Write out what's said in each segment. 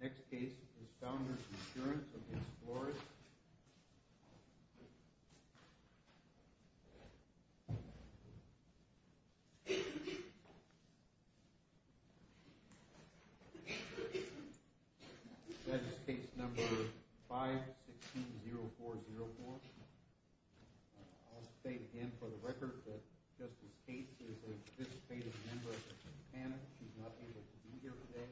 Next case is Founders Insurance of v. Flores. This is case number 516-0404. I'll state again for the record that Justice Cates is a participating member of the panel. She's not able to be here today.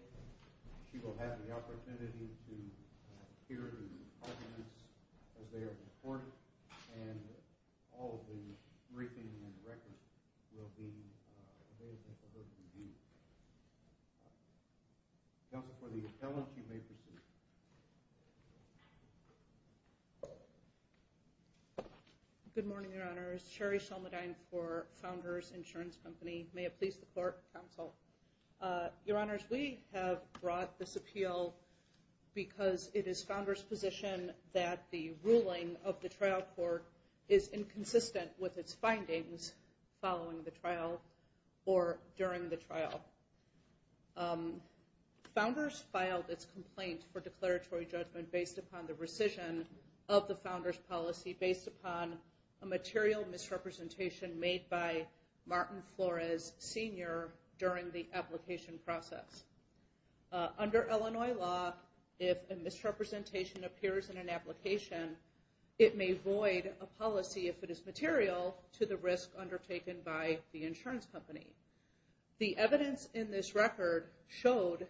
She will have the opportunity to hear the arguments as they are reported, and all of the briefing and records will be available to her to review. Counsel, for the appellant, you may proceed. Good morning, Your Honors. Sheri Shalmadyne for Founders Insurance Company. May it please the Court, Counsel. Your Honors, we have brought this appeal because it is Founders' position that the ruling of the trial court is inconsistent with its findings following the trial or during the trial. Founders filed its complaint for declaratory judgment based upon the rescission of the material misrepresentation made by Martin Flores Sr. during the application process. Under Illinois law, if a misrepresentation appears in an application, it may void a policy if it is material to the risk undertaken by the insurance company. The evidence in this record showed,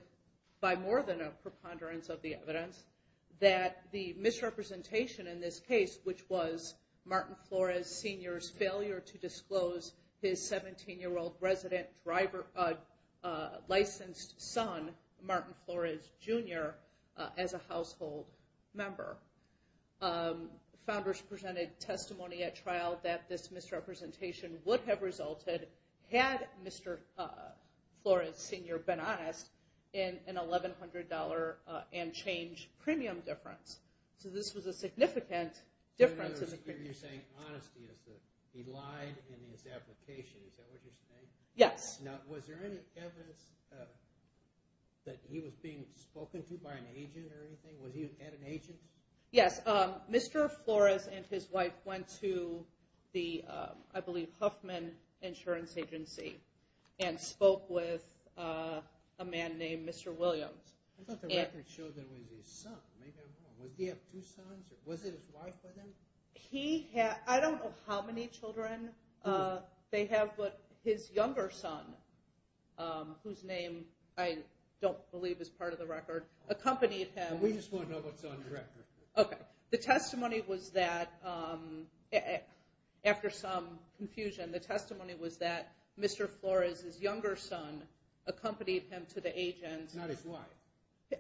by more than a preponderance of the evidence, that the misrepresentation in this case, which was Martin Flores Sr.'s failure to disclose his 17-year-old resident licensed son, Martin Flores Jr., as a household member. Founders presented testimony at trial that this misrepresentation would have resulted, had Mr. Flores Sr. been honest, in an $1,100 and change premium difference. So this was a significant difference. You're saying honesty. He lied in his application. Is that what you're saying? Yes. Now, was there any evidence that he was being spoken to by an agent or anything? Was he at an agent's? Yes. Mr. Flores and his wife went to the, I believe, Huffman Insurance Agency and spoke with a man named Mr. Williams. I thought the record showed that it was his son. Maybe I'm wrong. Did he have two sons? Was it his wife with him? I don't know how many children they have, but his younger son, whose name I don't believe is part of the record, accompanied him. We just want to know what's on the record. Okay. The testimony was that, after some confusion, the testimony was that Mr. Flores' younger son accompanied him to the agent. Not his wife.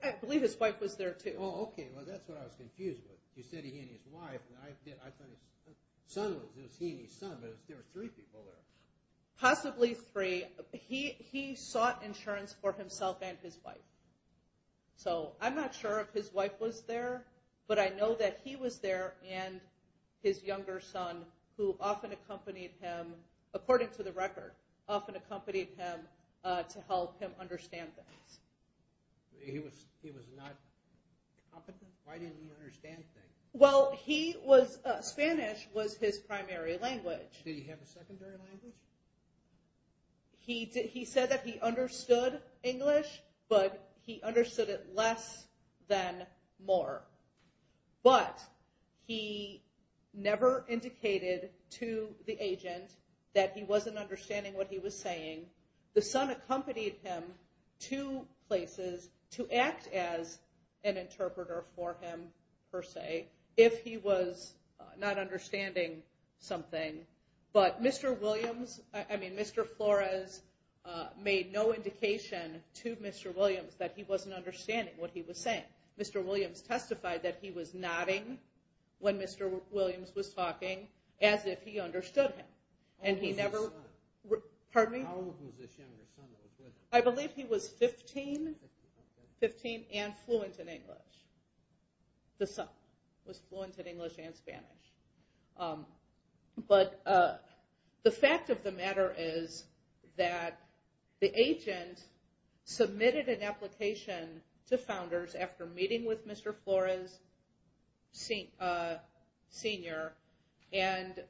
I believe his wife was there, too. Oh, okay. Well, that's what I was confused with. You said he and his wife, and I thought his son was. It was he and his son, but there were three people there. Possibly three. He sought insurance for himself and his wife. So I'm not sure if his wife was there, but I know that he was there and his younger son, who often accompanied him, according to the record, often accompanied him to help him understand things. He was not competent? Why didn't he understand things? Well, Spanish was his primary language. Did he have a secondary language? He said that he understood English, but he understood it less than more. But he never indicated to the agent that he wasn't understanding what he was saying. The son accompanied him to places to act as an interpreter for him, per se, if he was not understanding something. But Mr. Williams, I mean Mr. Flores, made no indication to Mr. Williams that he wasn't understanding what he was saying. Mr. Williams testified that he was nodding when Mr. Williams was talking as if he understood him. How old was his son? Pardon me? How old was this younger son that was with him? I believe he was 15 and fluent in English. The son was fluent in English and Spanish. But the fact of the matter is that the agent submitted an application to Founders after meeting with Mr. Flores Sr. and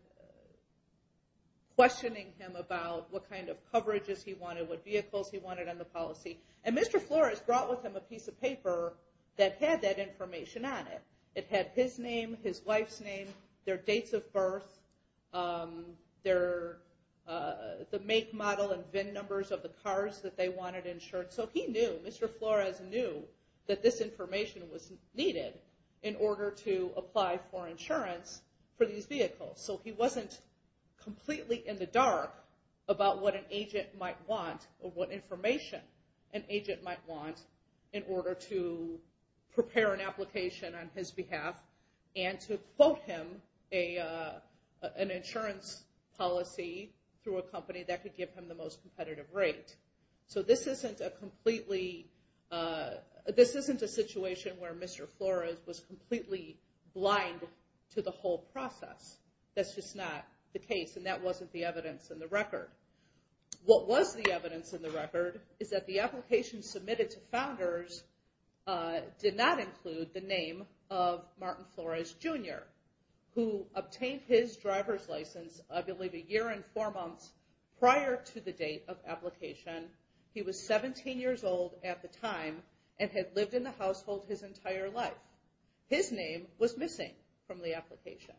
questioning him about what kind of coverages he wanted, what vehicles he wanted on the policy. And Mr. Flores brought with him a piece of paper that had that information on it. It had his name, his wife's name, their dates of birth, the make, model, and VIN numbers of the cars that they wanted insured. So he knew, Mr. Flores knew that this information was needed in order to apply for insurance for these vehicles. So he wasn't completely in the dark about what an agent might want or what information an agent might want in order to prepare an application on his behalf and to quote him an insurance policy through a company that could give him the most competitive rate. So this isn't a situation where Mr. Flores was completely blind to the whole process. That's just not the case, and that wasn't the evidence in the record. What was the evidence in the record is that the application submitted to founders did not include the name of Martin Flores, Jr., who obtained his driver's license, I believe, a year and four months prior to the date of application. He was 17 years old at the time and had lived in the household his entire life. His name was missing from the application.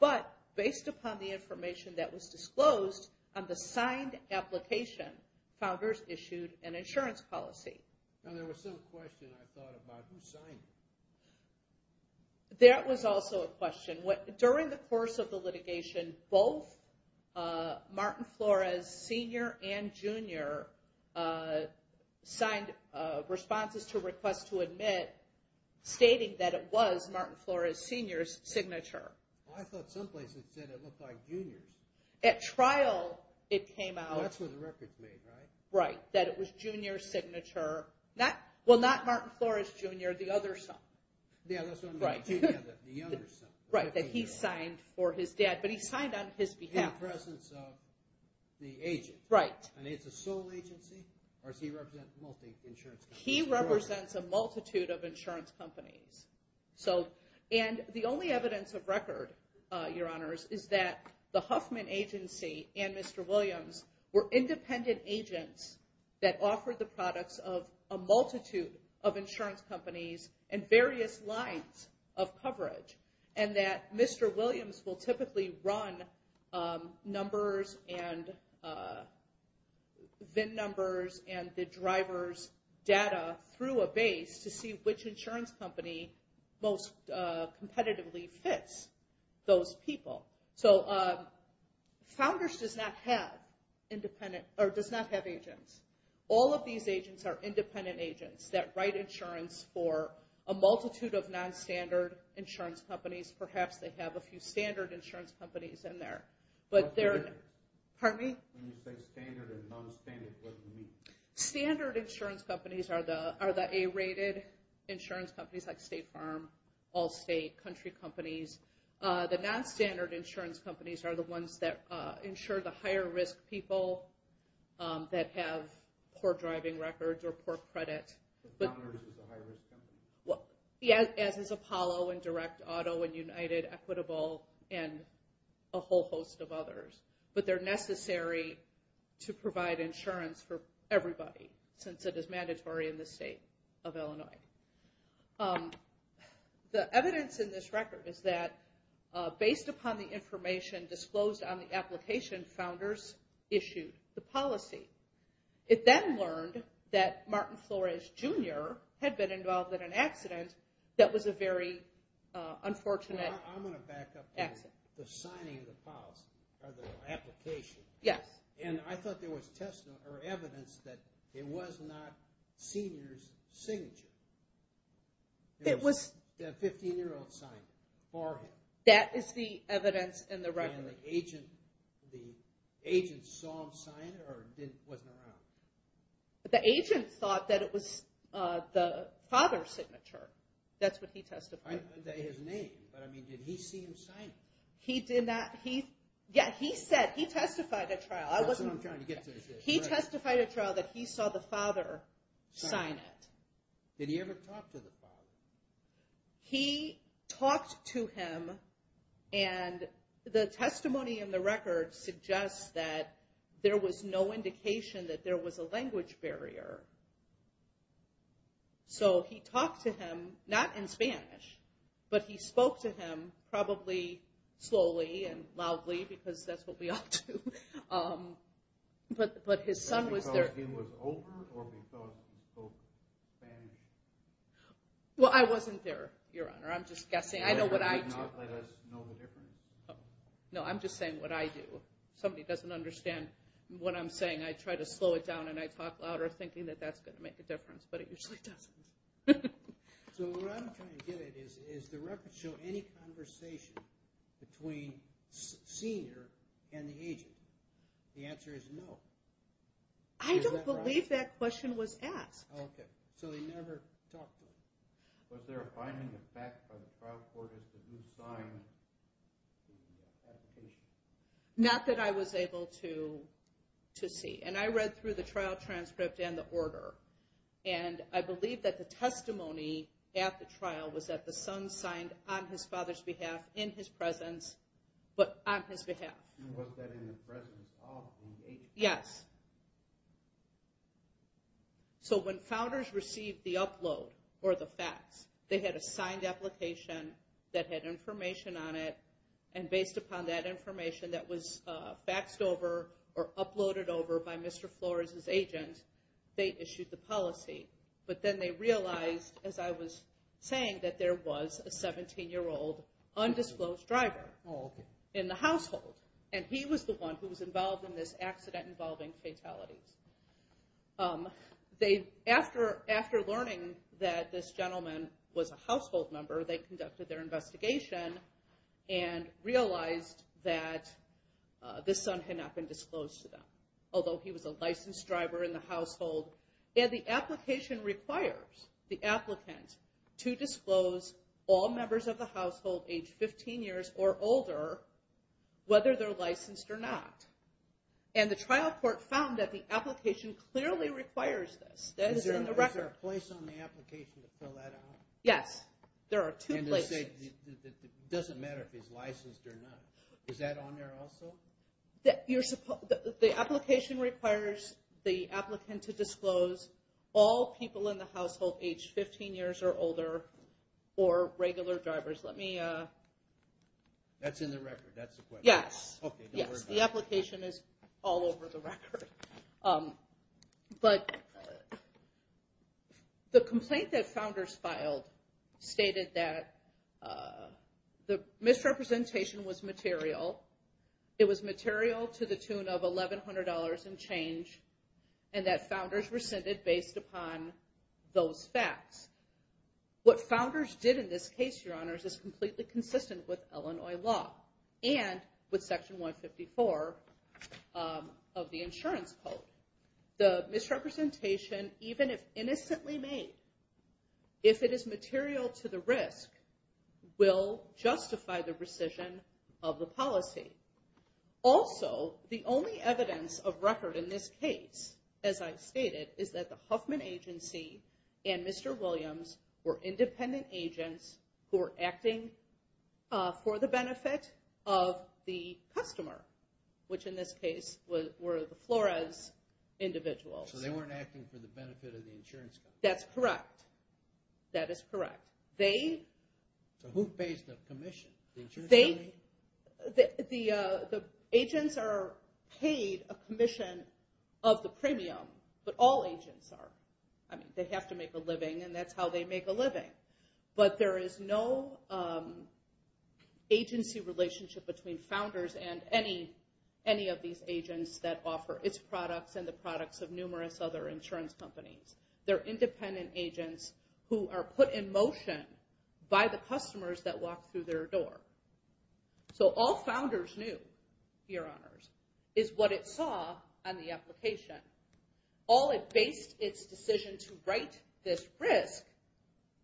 But based upon the information that was disclosed on the signed application, founders issued an insurance policy. Now there was some question I thought about. Who signed it? That was also a question. During the course of the litigation, both Martin Flores, Sr. and Jr. signed responses to requests to admit stating that it was Martin Flores, Sr.'s signature. I thought someplace it said it looked like Jr.'s. At trial it came out. That's where the record's made, right? Right, that it was Jr.'s signature. Well, not Martin Flores, Jr., the other son. Yeah, that's right, the other son. Right, that he signed for his dad, but he signed on his behalf. In the presence of the agent. Right. And it's a sole agency, or does he represent multiple insurance companies? He represents a multitude of insurance companies. And the only evidence of record, Your Honors, is that the Huffman agency and Mr. Williams were independent agents that offered the products of a multitude of insurance companies and various lines of coverage. And that Mr. Williams will typically run numbers and VIN numbers and the driver's data through a base to see which insurance company most competitively fits those people. So Founders does not have agents. All of these agents are independent agents that write insurance for a multitude of nonstandard insurance companies. Perhaps they have a few standard insurance companies in there. What do you mean? Pardon me? When you say standard and nonstandard, what do you mean? Standard insurance companies are the A-rated insurance companies like State Farm, Allstate, country companies. The nonstandard insurance companies are the ones that insure the higher-risk people that have poor driving records or poor credit. Founders is a higher-risk company. As is Apollo and Direct Auto and United, Equitable, and a whole host of others. But they're necessary to provide insurance for everybody since it is mandatory in the state of Illinois. The evidence in this record is that based upon the information disclosed on the application, Founders issued the policy. It then learned that Martin Flores, Jr. had been involved in an accident that was a very unfortunate accident. I'm going to back up to the signing of the policy or the application. Yes. I thought there was evidence that it was not Sr.'s signature. It was a 15-year-old sign for him. That is the evidence in the record. And the agent saw him sign it or wasn't around? The agent thought that it was the father's signature. That's what he testified. I didn't say his name, but did he see him sign it? He did not. He testified at trial. He testified at trial that he saw the father sign it. Did he ever talk to the father? He talked to him, and the testimony in the record suggests that there was no indication that there was a language barrier. So he talked to him, not in Spanish, but he spoke to him probably slowly and loudly because that's what we all do. But his son was there. Was it because he was older or because he spoke Spanish? Well, I wasn't there, Your Honor. I'm just guessing. I know what I do. You did not let us know the difference. No, I'm just saying what I do. If somebody doesn't understand what I'm saying, I try to slow it down and I talk louder thinking that that's going to make a difference, but it usually doesn't. So what I'm trying to get at is, does the record show any conversation between senior and the agent? The answer is no. I don't believe that question was asked. Oh, okay. So they never talked to him. Was there a binding effect by the trial court as to who signed the application? Not that I was able to see. I read through the trial transcript and the order, and I believe that the testimony at the trial was that the son signed on his father's behalf, in his presence, but on his behalf. And was that in the presence of the agent? Yes. So when founders received the upload or the fax, they had a signed application that had information on it, and based upon that information that was faxed over or uploaded over by Mr. Flores' agent, they issued the policy. But then they realized, as I was saying, that there was a 17-year-old undisclosed driver in the household, and he was the one who was involved in this accident involving fatalities. After learning that this gentleman was a household member, they conducted their investigation and realized that this son had not been disclosed to them, although he was a licensed driver in the household. And the application requires the applicant to disclose all members of the household aged 15 years or older, whether they're licensed or not. And the trial court found that the application clearly requires this. Is there a place on the application to fill that out? Yes. There are two places. It doesn't matter if he's licensed or not. Is that on there also? The application requires the applicant to disclose all people in the household aged 15 years or older or regular drivers. Let me... That's in the record. That's the question. Yes. The application is all over the record. But the complaint that Founders filed stated that the misrepresentation was material. It was material to the tune of $1,100 and change, and that Founders rescinded based upon those facts. What Founders did in this case, Your Honors, is completely consistent with Illinois law and with Section 154 of the Insurance Code. The misrepresentation, even if innocently made, if it is material to the risk, will justify the rescission of the policy. Also, the only evidence of record in this case, as I stated, is that the Huffman agency and Mr. Williams were independent agents who were acting for the benefit of the customer, which in this case were the Flores individuals. So they weren't acting for the benefit of the insurance company. That's correct. That is correct. So who pays the commission? The insurance company? The agents are paid a commission of the premium, but all agents are. They have to make a living, and that's how they make a living. But there is no agency relationship between founders and any of these agents that offer its products and the products of numerous other insurance companies. They're independent agents who are put in motion by the customers that walk through their door. So all Founders knew, Your Honors, is what it saw on the application. All it based its decision to write this risk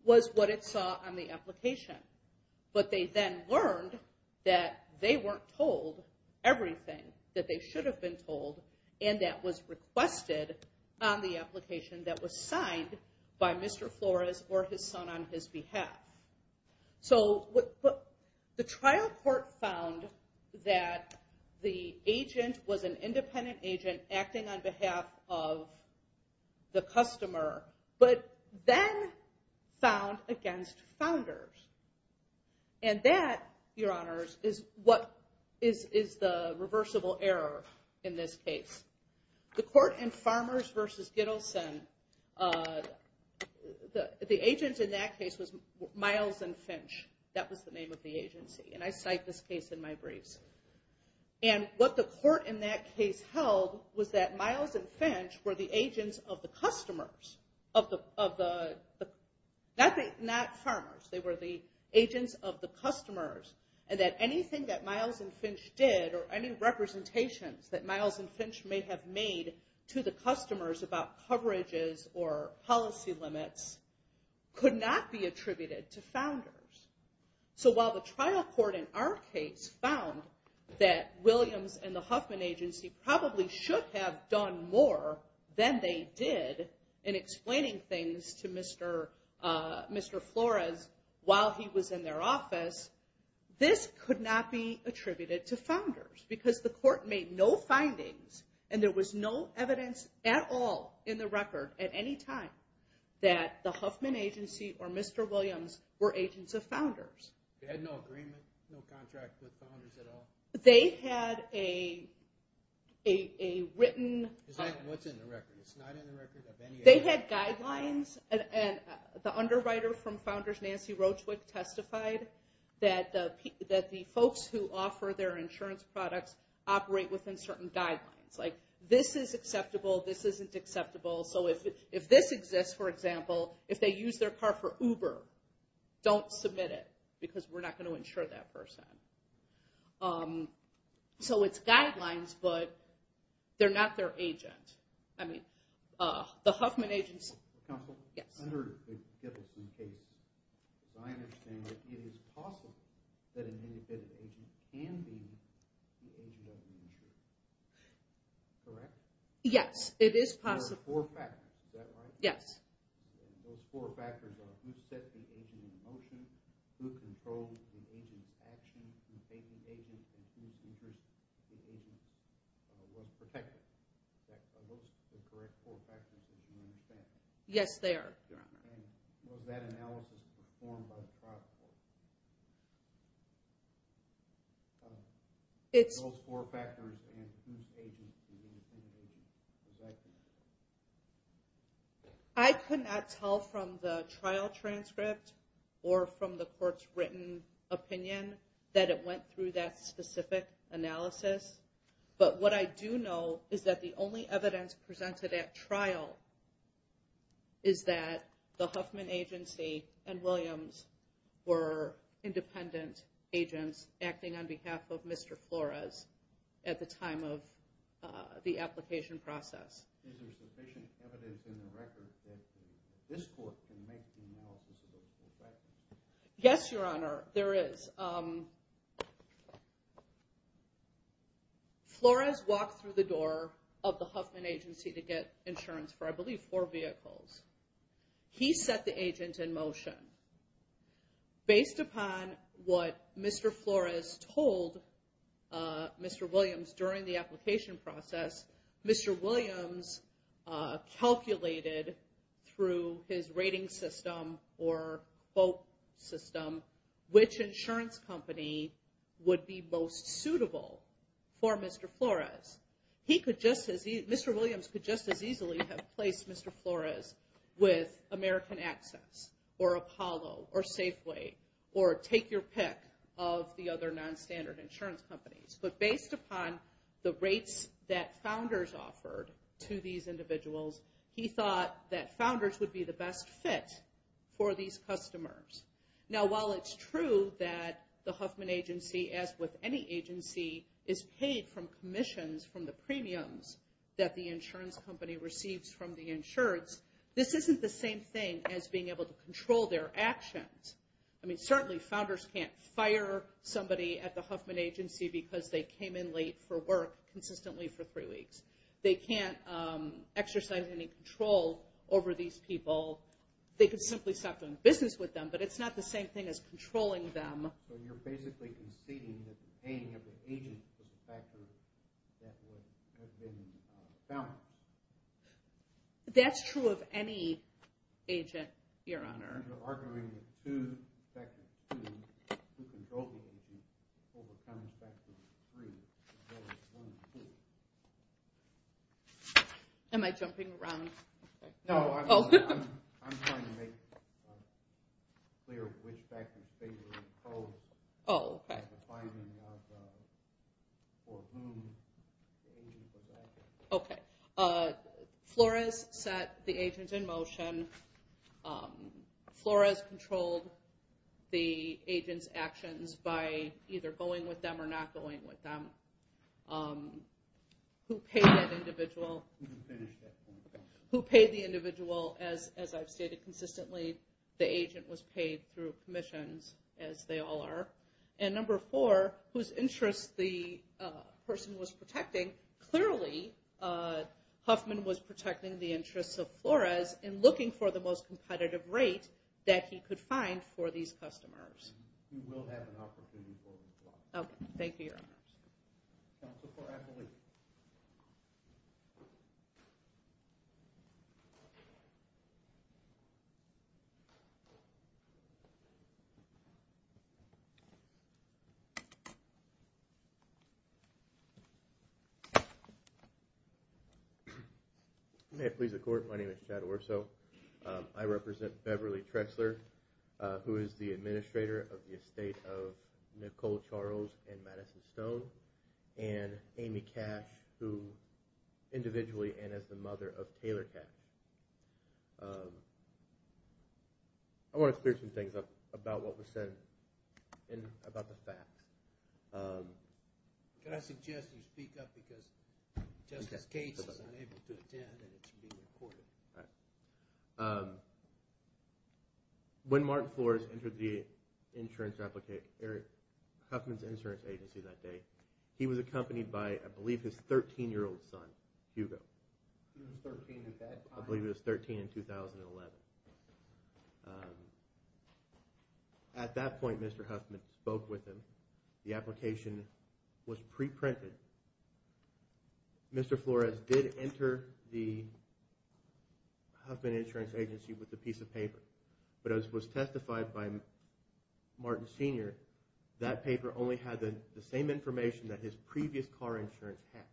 was what it saw on the application. But they then learned that they weren't told everything that they should have been told, and that was requested on the application that was signed by Mr. Flores or his son on his behalf. So the trial court found that the agent was an independent agent acting on behalf of the customer, but then found against Founders. And that, Your Honors, is the reversible error in this case. The court in Farmers v. Gittleson, the agent in that case was Miles and Finch. That was the name of the agency, and I cite this case in my briefs. And what the court in that case held was that Miles and Finch were the agents of the customers, not Farmers. They were the agents of the customers, and that anything that Miles and Finch did or any representations that Miles and Finch may have made to the customers about coverages or policy limits could not be attributed to Founders. So while the trial court in our case found that Williams and the Huffman agency probably should have done more than they did in explaining things to Mr. Flores while he was in their office, this could not be attributed to Founders because the court made no findings and there was no evidence at all in the record at any time that the Huffman agency or Mr. Williams were agents of Founders. They had no agreement, no contract with Founders at all? They had a written... What's in the record? It's not in the record of any... They had guidelines, and the underwriter from Founders, Nancy Roachwick, testified that the folks who offer their insurance products operate within certain guidelines. Like, this is acceptable, this isn't acceptable. So if this exists, for example, if they use their car for Uber, don't submit it because we're not going to insure that person. So it's guidelines, but they're not their agent. I mean, the Huffman agency... Yes. Yes, it is possible. Yes. Those four factors are who set the agent in motion, who controlled the agent's actions, who paid the agent, and whose interest the agent was protecting. Are those the correct four factors, as you understand? Yes, they are, Your Honor. And was that analysis performed by the prosecutor? It's... Those four factors and whose agent the Huffman agency was acting under. I could not tell from the trial transcript or from the court's written opinion that it went through that specific analysis. But what I do know is that the only evidence presented at trial is that the Huffman agency and Williams were independent agents acting on behalf of Mr. Flores at the time of the application process. Is there sufficient evidence in the record that this court can make the analysis of those four factors? Yes, Your Honor, there is. Flores walked through the door of the Huffman agency to get insurance for, I believe, four vehicles. He set the agent in motion. Based upon what Mr. Flores told Mr. Williams during the application process, Mr. Williams calculated through his rating system or quote system which insurance company would be most suitable for Mr. Flores. Mr. Williams could just as easily have placed Mr. Flores with American Access or Apollo or Safeway or take your pick of the other non-standard insurance companies. But based upon the rates that founders offered to these individuals, he thought that founders would be the best fit for these customers. Now, while it's true that the Huffman agency, as with any agency, is paid from commissions from the premiums that the insurance company receives from the insurance, this isn't the same thing as being able to control their actions. I mean, certainly founders can't fire somebody at the Huffman agency because they came in late for work consistently for three weeks. They can't exercise any control over these people. They could simply stop doing business with them, but it's not the same thing as controlling them. That's true of any agent, Your Honor. Who controls the agents, overcomes Section 3. Am I jumping around? No, I'm trying to make clear which factors favor and oppose. Oh, okay. Okay. Flores set the agent in motion. Flores controlled the agent's actions by either going with them or not going with them. Who paid that individual? Who paid the individual? As I've stated consistently, the agent was paid through commissions, as they all are. And number four, whose interests the person was protecting, clearly Huffman was protecting the interests of Flores in looking for the most competitive rate that he could find for these customers. Okay. Thank you, Your Honor. Counsel for Appellee. May it please the Court, my name is Chad Orso. I represent Beverly Trexler, who is the administrator of the estate of Nicole Charles and Madison Stone, and Amy Cash, who individually and as the mother of Taylor Cash. I want to clear some things up about what was said and about the facts. Could I suggest you speak up because Justice Gates is unable to attend and it's being recorded. All right. When Martin Flores entered the insurance, Eric Huffman's insurance agency that day, he was accompanied by, I believe, his 13-year-old son, Hugo. He was 13 at that time? I believe he was 13 in 2011. At that point, Mr. Huffman spoke with him. The application was preprinted. Mr. Flores did enter the Huffman insurance agency with a piece of paper. But as was testified by Martin Sr., that paper only had the same information that his previous car insurance had.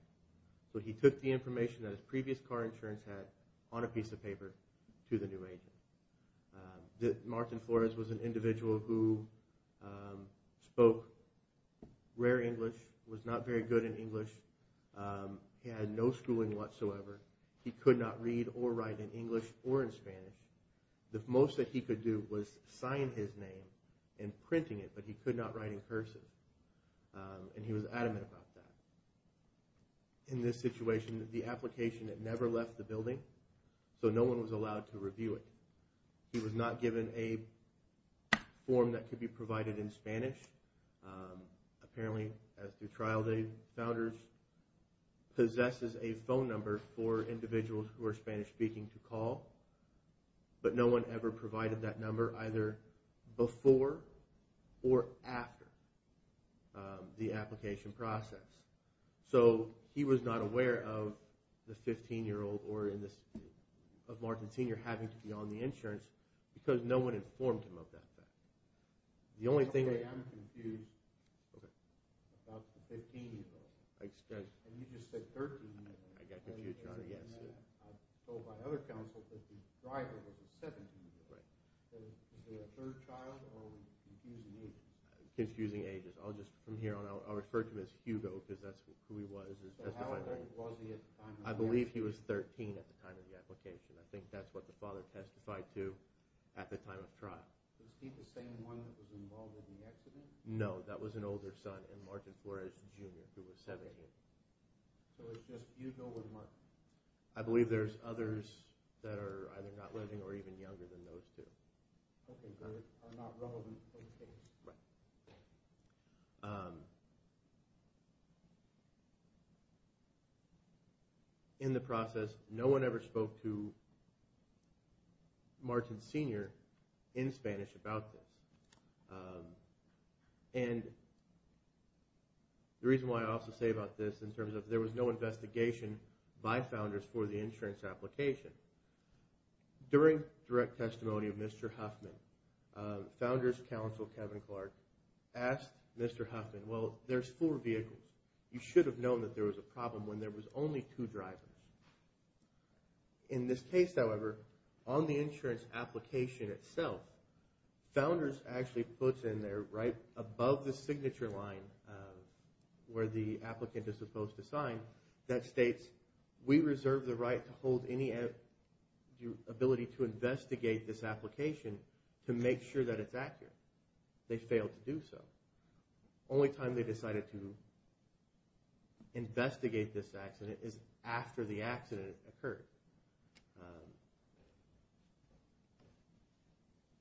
So he took the information that his previous car insurance had on a piece of paper to the new agent. Martin Flores was an individual who spoke rare English, was not very good in English. He had no schooling whatsoever. He could not read or write in English or in Spanish. The most that he could do was sign his name and printing it, but he could not write in person. And he was adamant about that. In this situation, the application had never left the building, so no one was allowed to review it. He was not given a form that could be provided in Spanish. Apparently, as through trial date, Founders possesses a phone number for individuals who are Spanish-speaking to call, but no one ever provided that number either before or after the application process. So he was not aware of the 15-year-old or of Martin Sr. having to be on the insurance because no one informed him of that fact. I'm confused about the 15-year-old. And you just said 13-year-old. I got confused, Your Honor, yes. I was told by other counsel that the driver was a 17-year-old. Was he a third child or was he confusing ages? Confusing ages. From here on, I'll refer to him as Hugo because that's who he was. So how old was he at the time of the application? I believe he was 13 at the time of the application. I think that's what the father testified to at the time of trial. Was he the same one that was involved in the accident? No, that was an older son, Martin Flores Jr., who was 17. So it's just Hugo and Martin. I believe there's others that are either not living or even younger than those two. Okay, so they're not relevant to the case. Right. In the process, no one ever spoke to Martin Sr. in Spanish about this. And the reason why I also say about this in terms of there was no investigation by founders for the insurance application. During direct testimony of Mr. Huffman, founders counsel Kevin Clark asked Mr. Huffman, Well, there's four vehicles. You should have known that there was a problem when there was only two drivers. In this case, however, on the insurance application itself, founders actually puts in there right above the signature line where the applicant is supposed to sign that states, we reserve the right to hold any ability to investigate this application to make sure that it's accurate. They failed to do so. Only time they decided to investigate this accident is after the accident occurred.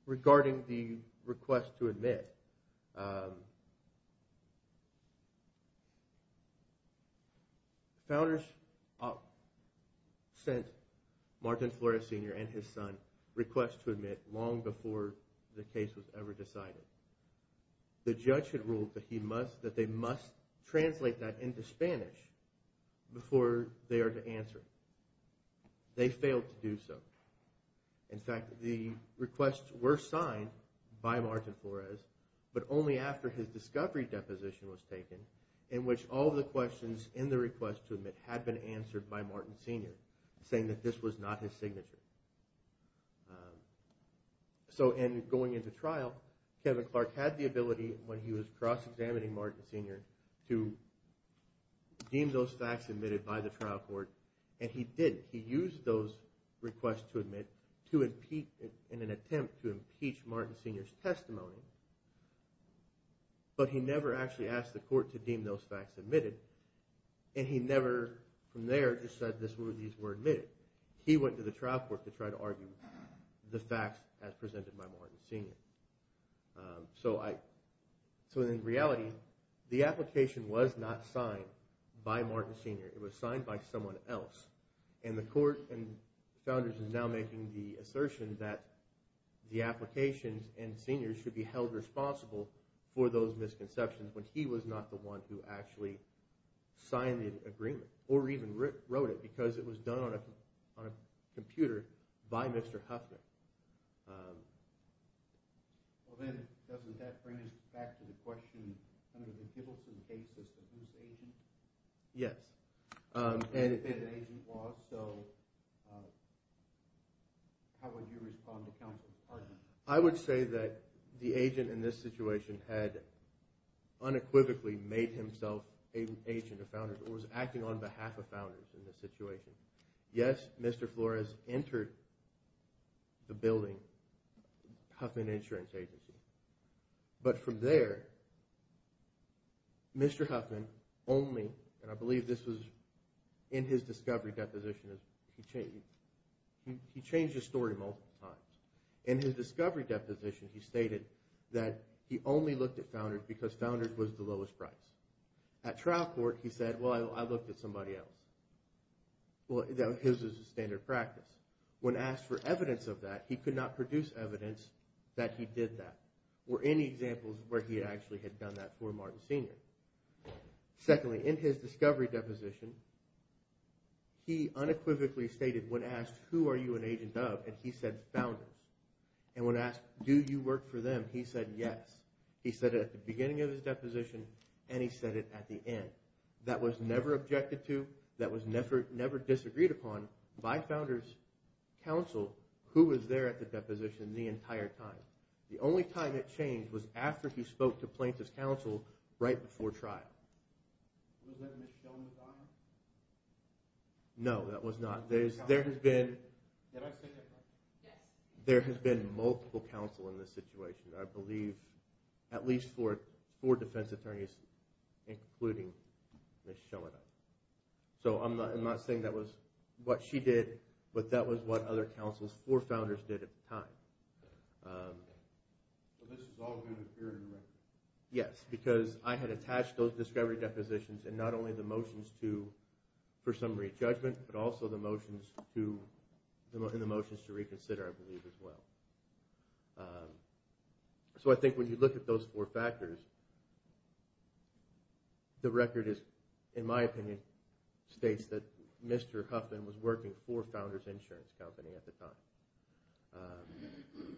Regarding the request to admit, founders sent Martin Flores Sr. and his son a request to admit long before the case was ever decided. The judge had ruled that they must translate that into Spanish before they are to answer. They failed to do so. In fact, the requests were signed by Martin Flores but only after his discovery deposition was taken in which all the questions in the request to admit had been answered by Martin Sr. saying that this was not his signature. So in going into trial, Kevin Clark had the ability when he was cross-examining Martin Sr. to deem those facts admitted by the trial court and he did. He used those requests to admit in an attempt to impeach Martin Sr.'s testimony but he never actually asked the court to deem those facts admitted and he never from there just said these were admitted. He went to the trial court to try to argue the facts as presented by Martin Sr. So in reality, the application was not signed by Martin Sr. It was signed by someone else and the court and founders are now making the assertion that the applications and seniors should be held responsible for those misconceptions when he was not the one who actually signed the agreement or even wrote it because it was done on a computer by Mr. Huffman. Well then, doesn't that bring us back to the question under the Gibbleton case, was it his agent? Yes. And if it had been an agent, so how would you respond to counsel's argument? I would say that the agent in this situation had unequivocally made himself an agent or founder or was acting on behalf of founders in this situation. Yes, Mr. Flores entered the building, Huffman Insurance Agency. But from there, Mr. Huffman only, and I believe this was in his discovery deposition, he changed his story multiple times. In his discovery deposition, he stated that he only looked at founders because founders was the lowest price. At trial court, he said, well, I looked at somebody else. Well, his was the standard practice. When asked for evidence of that, he could not produce evidence that he did that or any examples where he actually had done that for Martin Sr. Secondly, in his discovery deposition, he unequivocally stated, when asked, who are you an agent of, and he said, founders. And when asked, do you work for them, he said, yes. He said it at the beginning of his deposition, and he said it at the end. That was never objected to. That was never disagreed upon by founders' counsel, who was there at the deposition the entire time. The only time it changed was after he spoke to plaintiff's counsel right before trial. No, that was not. There has been multiple counsel in this situation, I believe, at least four defense attorneys, including Ms. Schoenheim. So I'm not saying that was what she did, but that was what other counsels, four founders, did at the time. Yes, because I had attached those discovery depositions and not only the motions for summary judgment, but also the motions to reconsider, I believe, as well. So I think when you look at those four factors, the record is, in my opinion, states that Mr. Huffman was working for Founders Insurance Company at the time.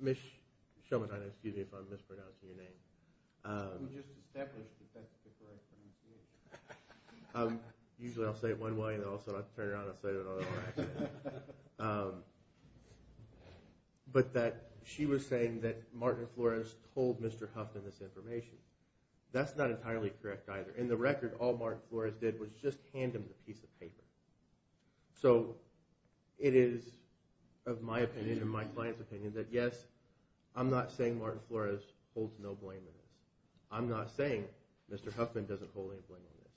Ms. Schoenheim, excuse me if I'm mispronouncing your name. Just establish that that's the correct thing to do. Usually I'll say it one way and then I'll turn around and say it another way. But that she was saying that Martin Flores told Mr. Huffman this information, that's not entirely correct either. In the record, all Martin Flores did was just hand him the piece of paper. So it is, of my opinion and my client's opinion, that yes, I'm not saying Martin Flores holds no blame in this. I'm not saying Mr. Huffman doesn't hold any blame in this.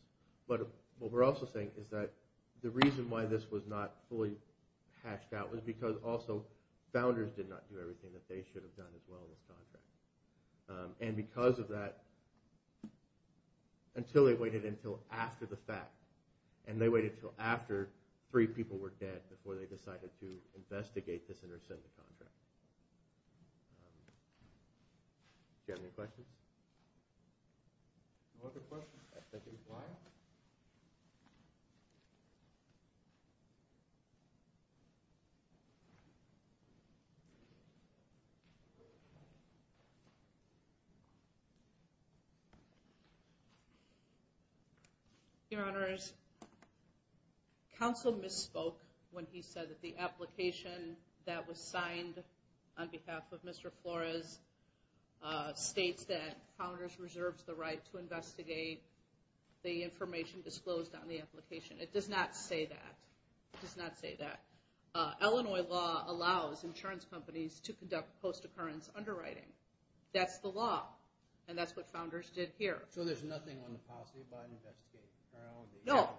But what we're also saying is that the reason why this was not fully hatched out was because also Founders did not do everything that they should have done as well in the contract. And because of that, until they waited until after the fact, and they waited until after three people were dead before they decided to investigate this and rescind the contract. Do you have any questions? No other questions. Thank you. Your Honors, Counsel misspoke when he said that the application that was signed on behalf of Mr. Flores states that Founders reserves the right to investigate the information disclosed on the application. It does not say that. It does not say that. Illinois law allows insurance companies to conduct post-occurrence underwriting. That's the law. And that's what Founders did here. So there's nothing on the policy about investigating? No.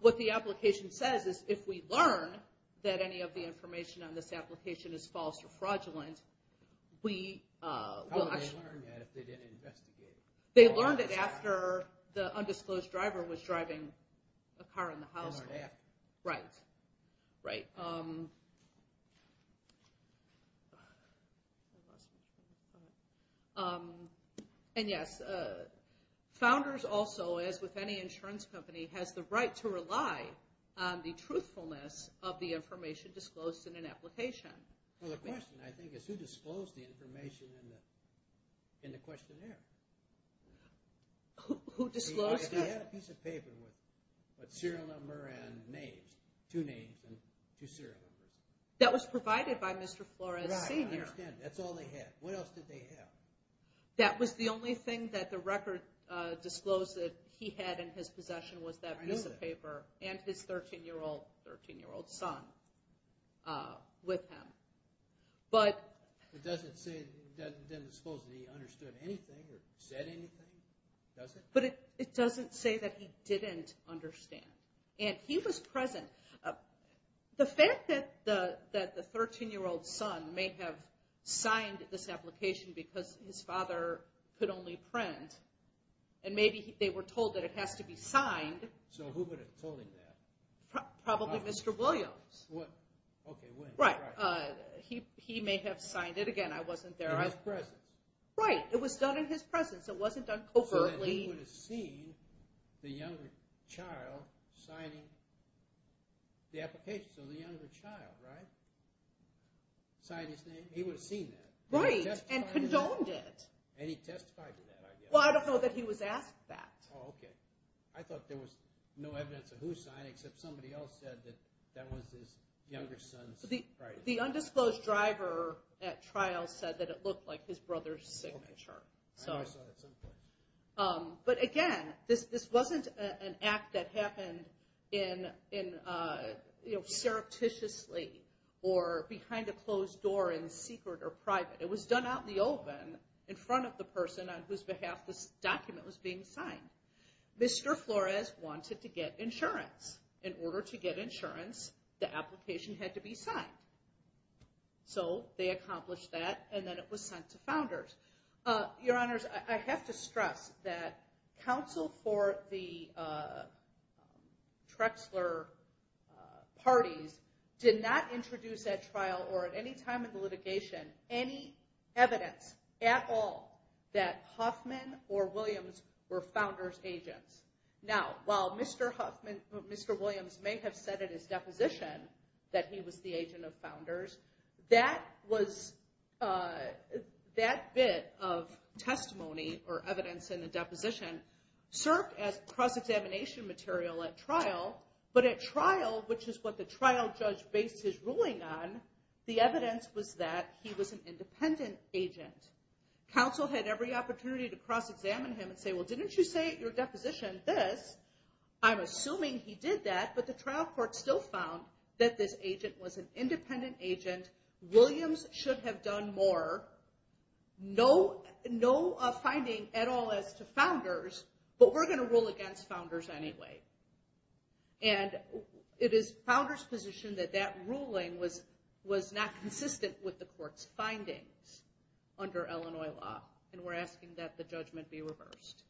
What the application says is if we learn that any of the information on this application is false or fraudulent, we will actually… How would they learn that if they didn't investigate it? They learned it after the undisclosed driver was driving a car in the household. They learned that. Right. Right. And, yes, Founders also, as with any insurance company, has the right to rely on the truthfulness of the information disclosed in an application. Well, the question, I think, is who disclosed the information in the questionnaire? Who disclosed it? He had a piece of paper with serial number and names, two names and two serial numbers. That was provided by Mr. Flores, Sr. Right. I understand. That's all they had. What else did they have? That was the only thing that the record disclosed that he had in his possession was that piece of paper and his 13-year-old son with him. But… It doesn't disclose that he understood anything or said anything, does it? But it doesn't say that he didn't understand. And he was present. The fact that the 13-year-old son may have signed this application because his father could only print and maybe they were told that it has to be signed… So who would have told him that? Probably Mr. Williams. What? Okay, when? Right. He may have signed it. Again, I wasn't there. In his presence? Right. It was done in his presence. It wasn't done covertly. So he would have seen the younger child signing the application. So the younger child, right, signed his name. He would have seen that. Right, and condoned it. And he testified to that, I guess. Well, I don't know that he was asked that. Oh, okay. I thought there was no evidence of who signed it except somebody else said that that was his younger son's writing. The undisclosed driver at trial said that it looked like his brother's signature. I know I saw that someplace. But, again, this wasn't an act that happened surreptitiously or behind a closed door in secret or private. It was done out in the open in front of the person on whose behalf this document was being signed. Mr. Flores wanted to get insurance. In order to get insurance, the application had to be signed. So they accomplished that, and then it was sent to founders. Your Honors, I have to stress that counsel for the Trexler parties did not introduce at trial or at any time in the litigation any evidence at all that Hoffman or Williams were founders' agents. Now, while Mr. Williams may have said in his deposition that he was the agent of founders, that bit of testimony or evidence in the deposition served as cross-examination material at trial. But at trial, which is what the trial judge based his ruling on, the evidence was that he was an independent agent. Counsel had every opportunity to cross-examine him and say, Well, didn't you say at your deposition this? I'm assuming he did that, but the trial court still found that this agent was an independent agent. Williams should have done more. No finding at all as to founders, but we're going to rule against founders anyway. And it is founders' position that that ruling was not consistent with the court's findings under Illinois law, and we're asking that the judgment be reversed.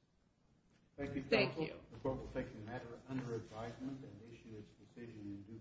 Thank you, counsel. The court will take the matter under advisement and issue its decision in due course.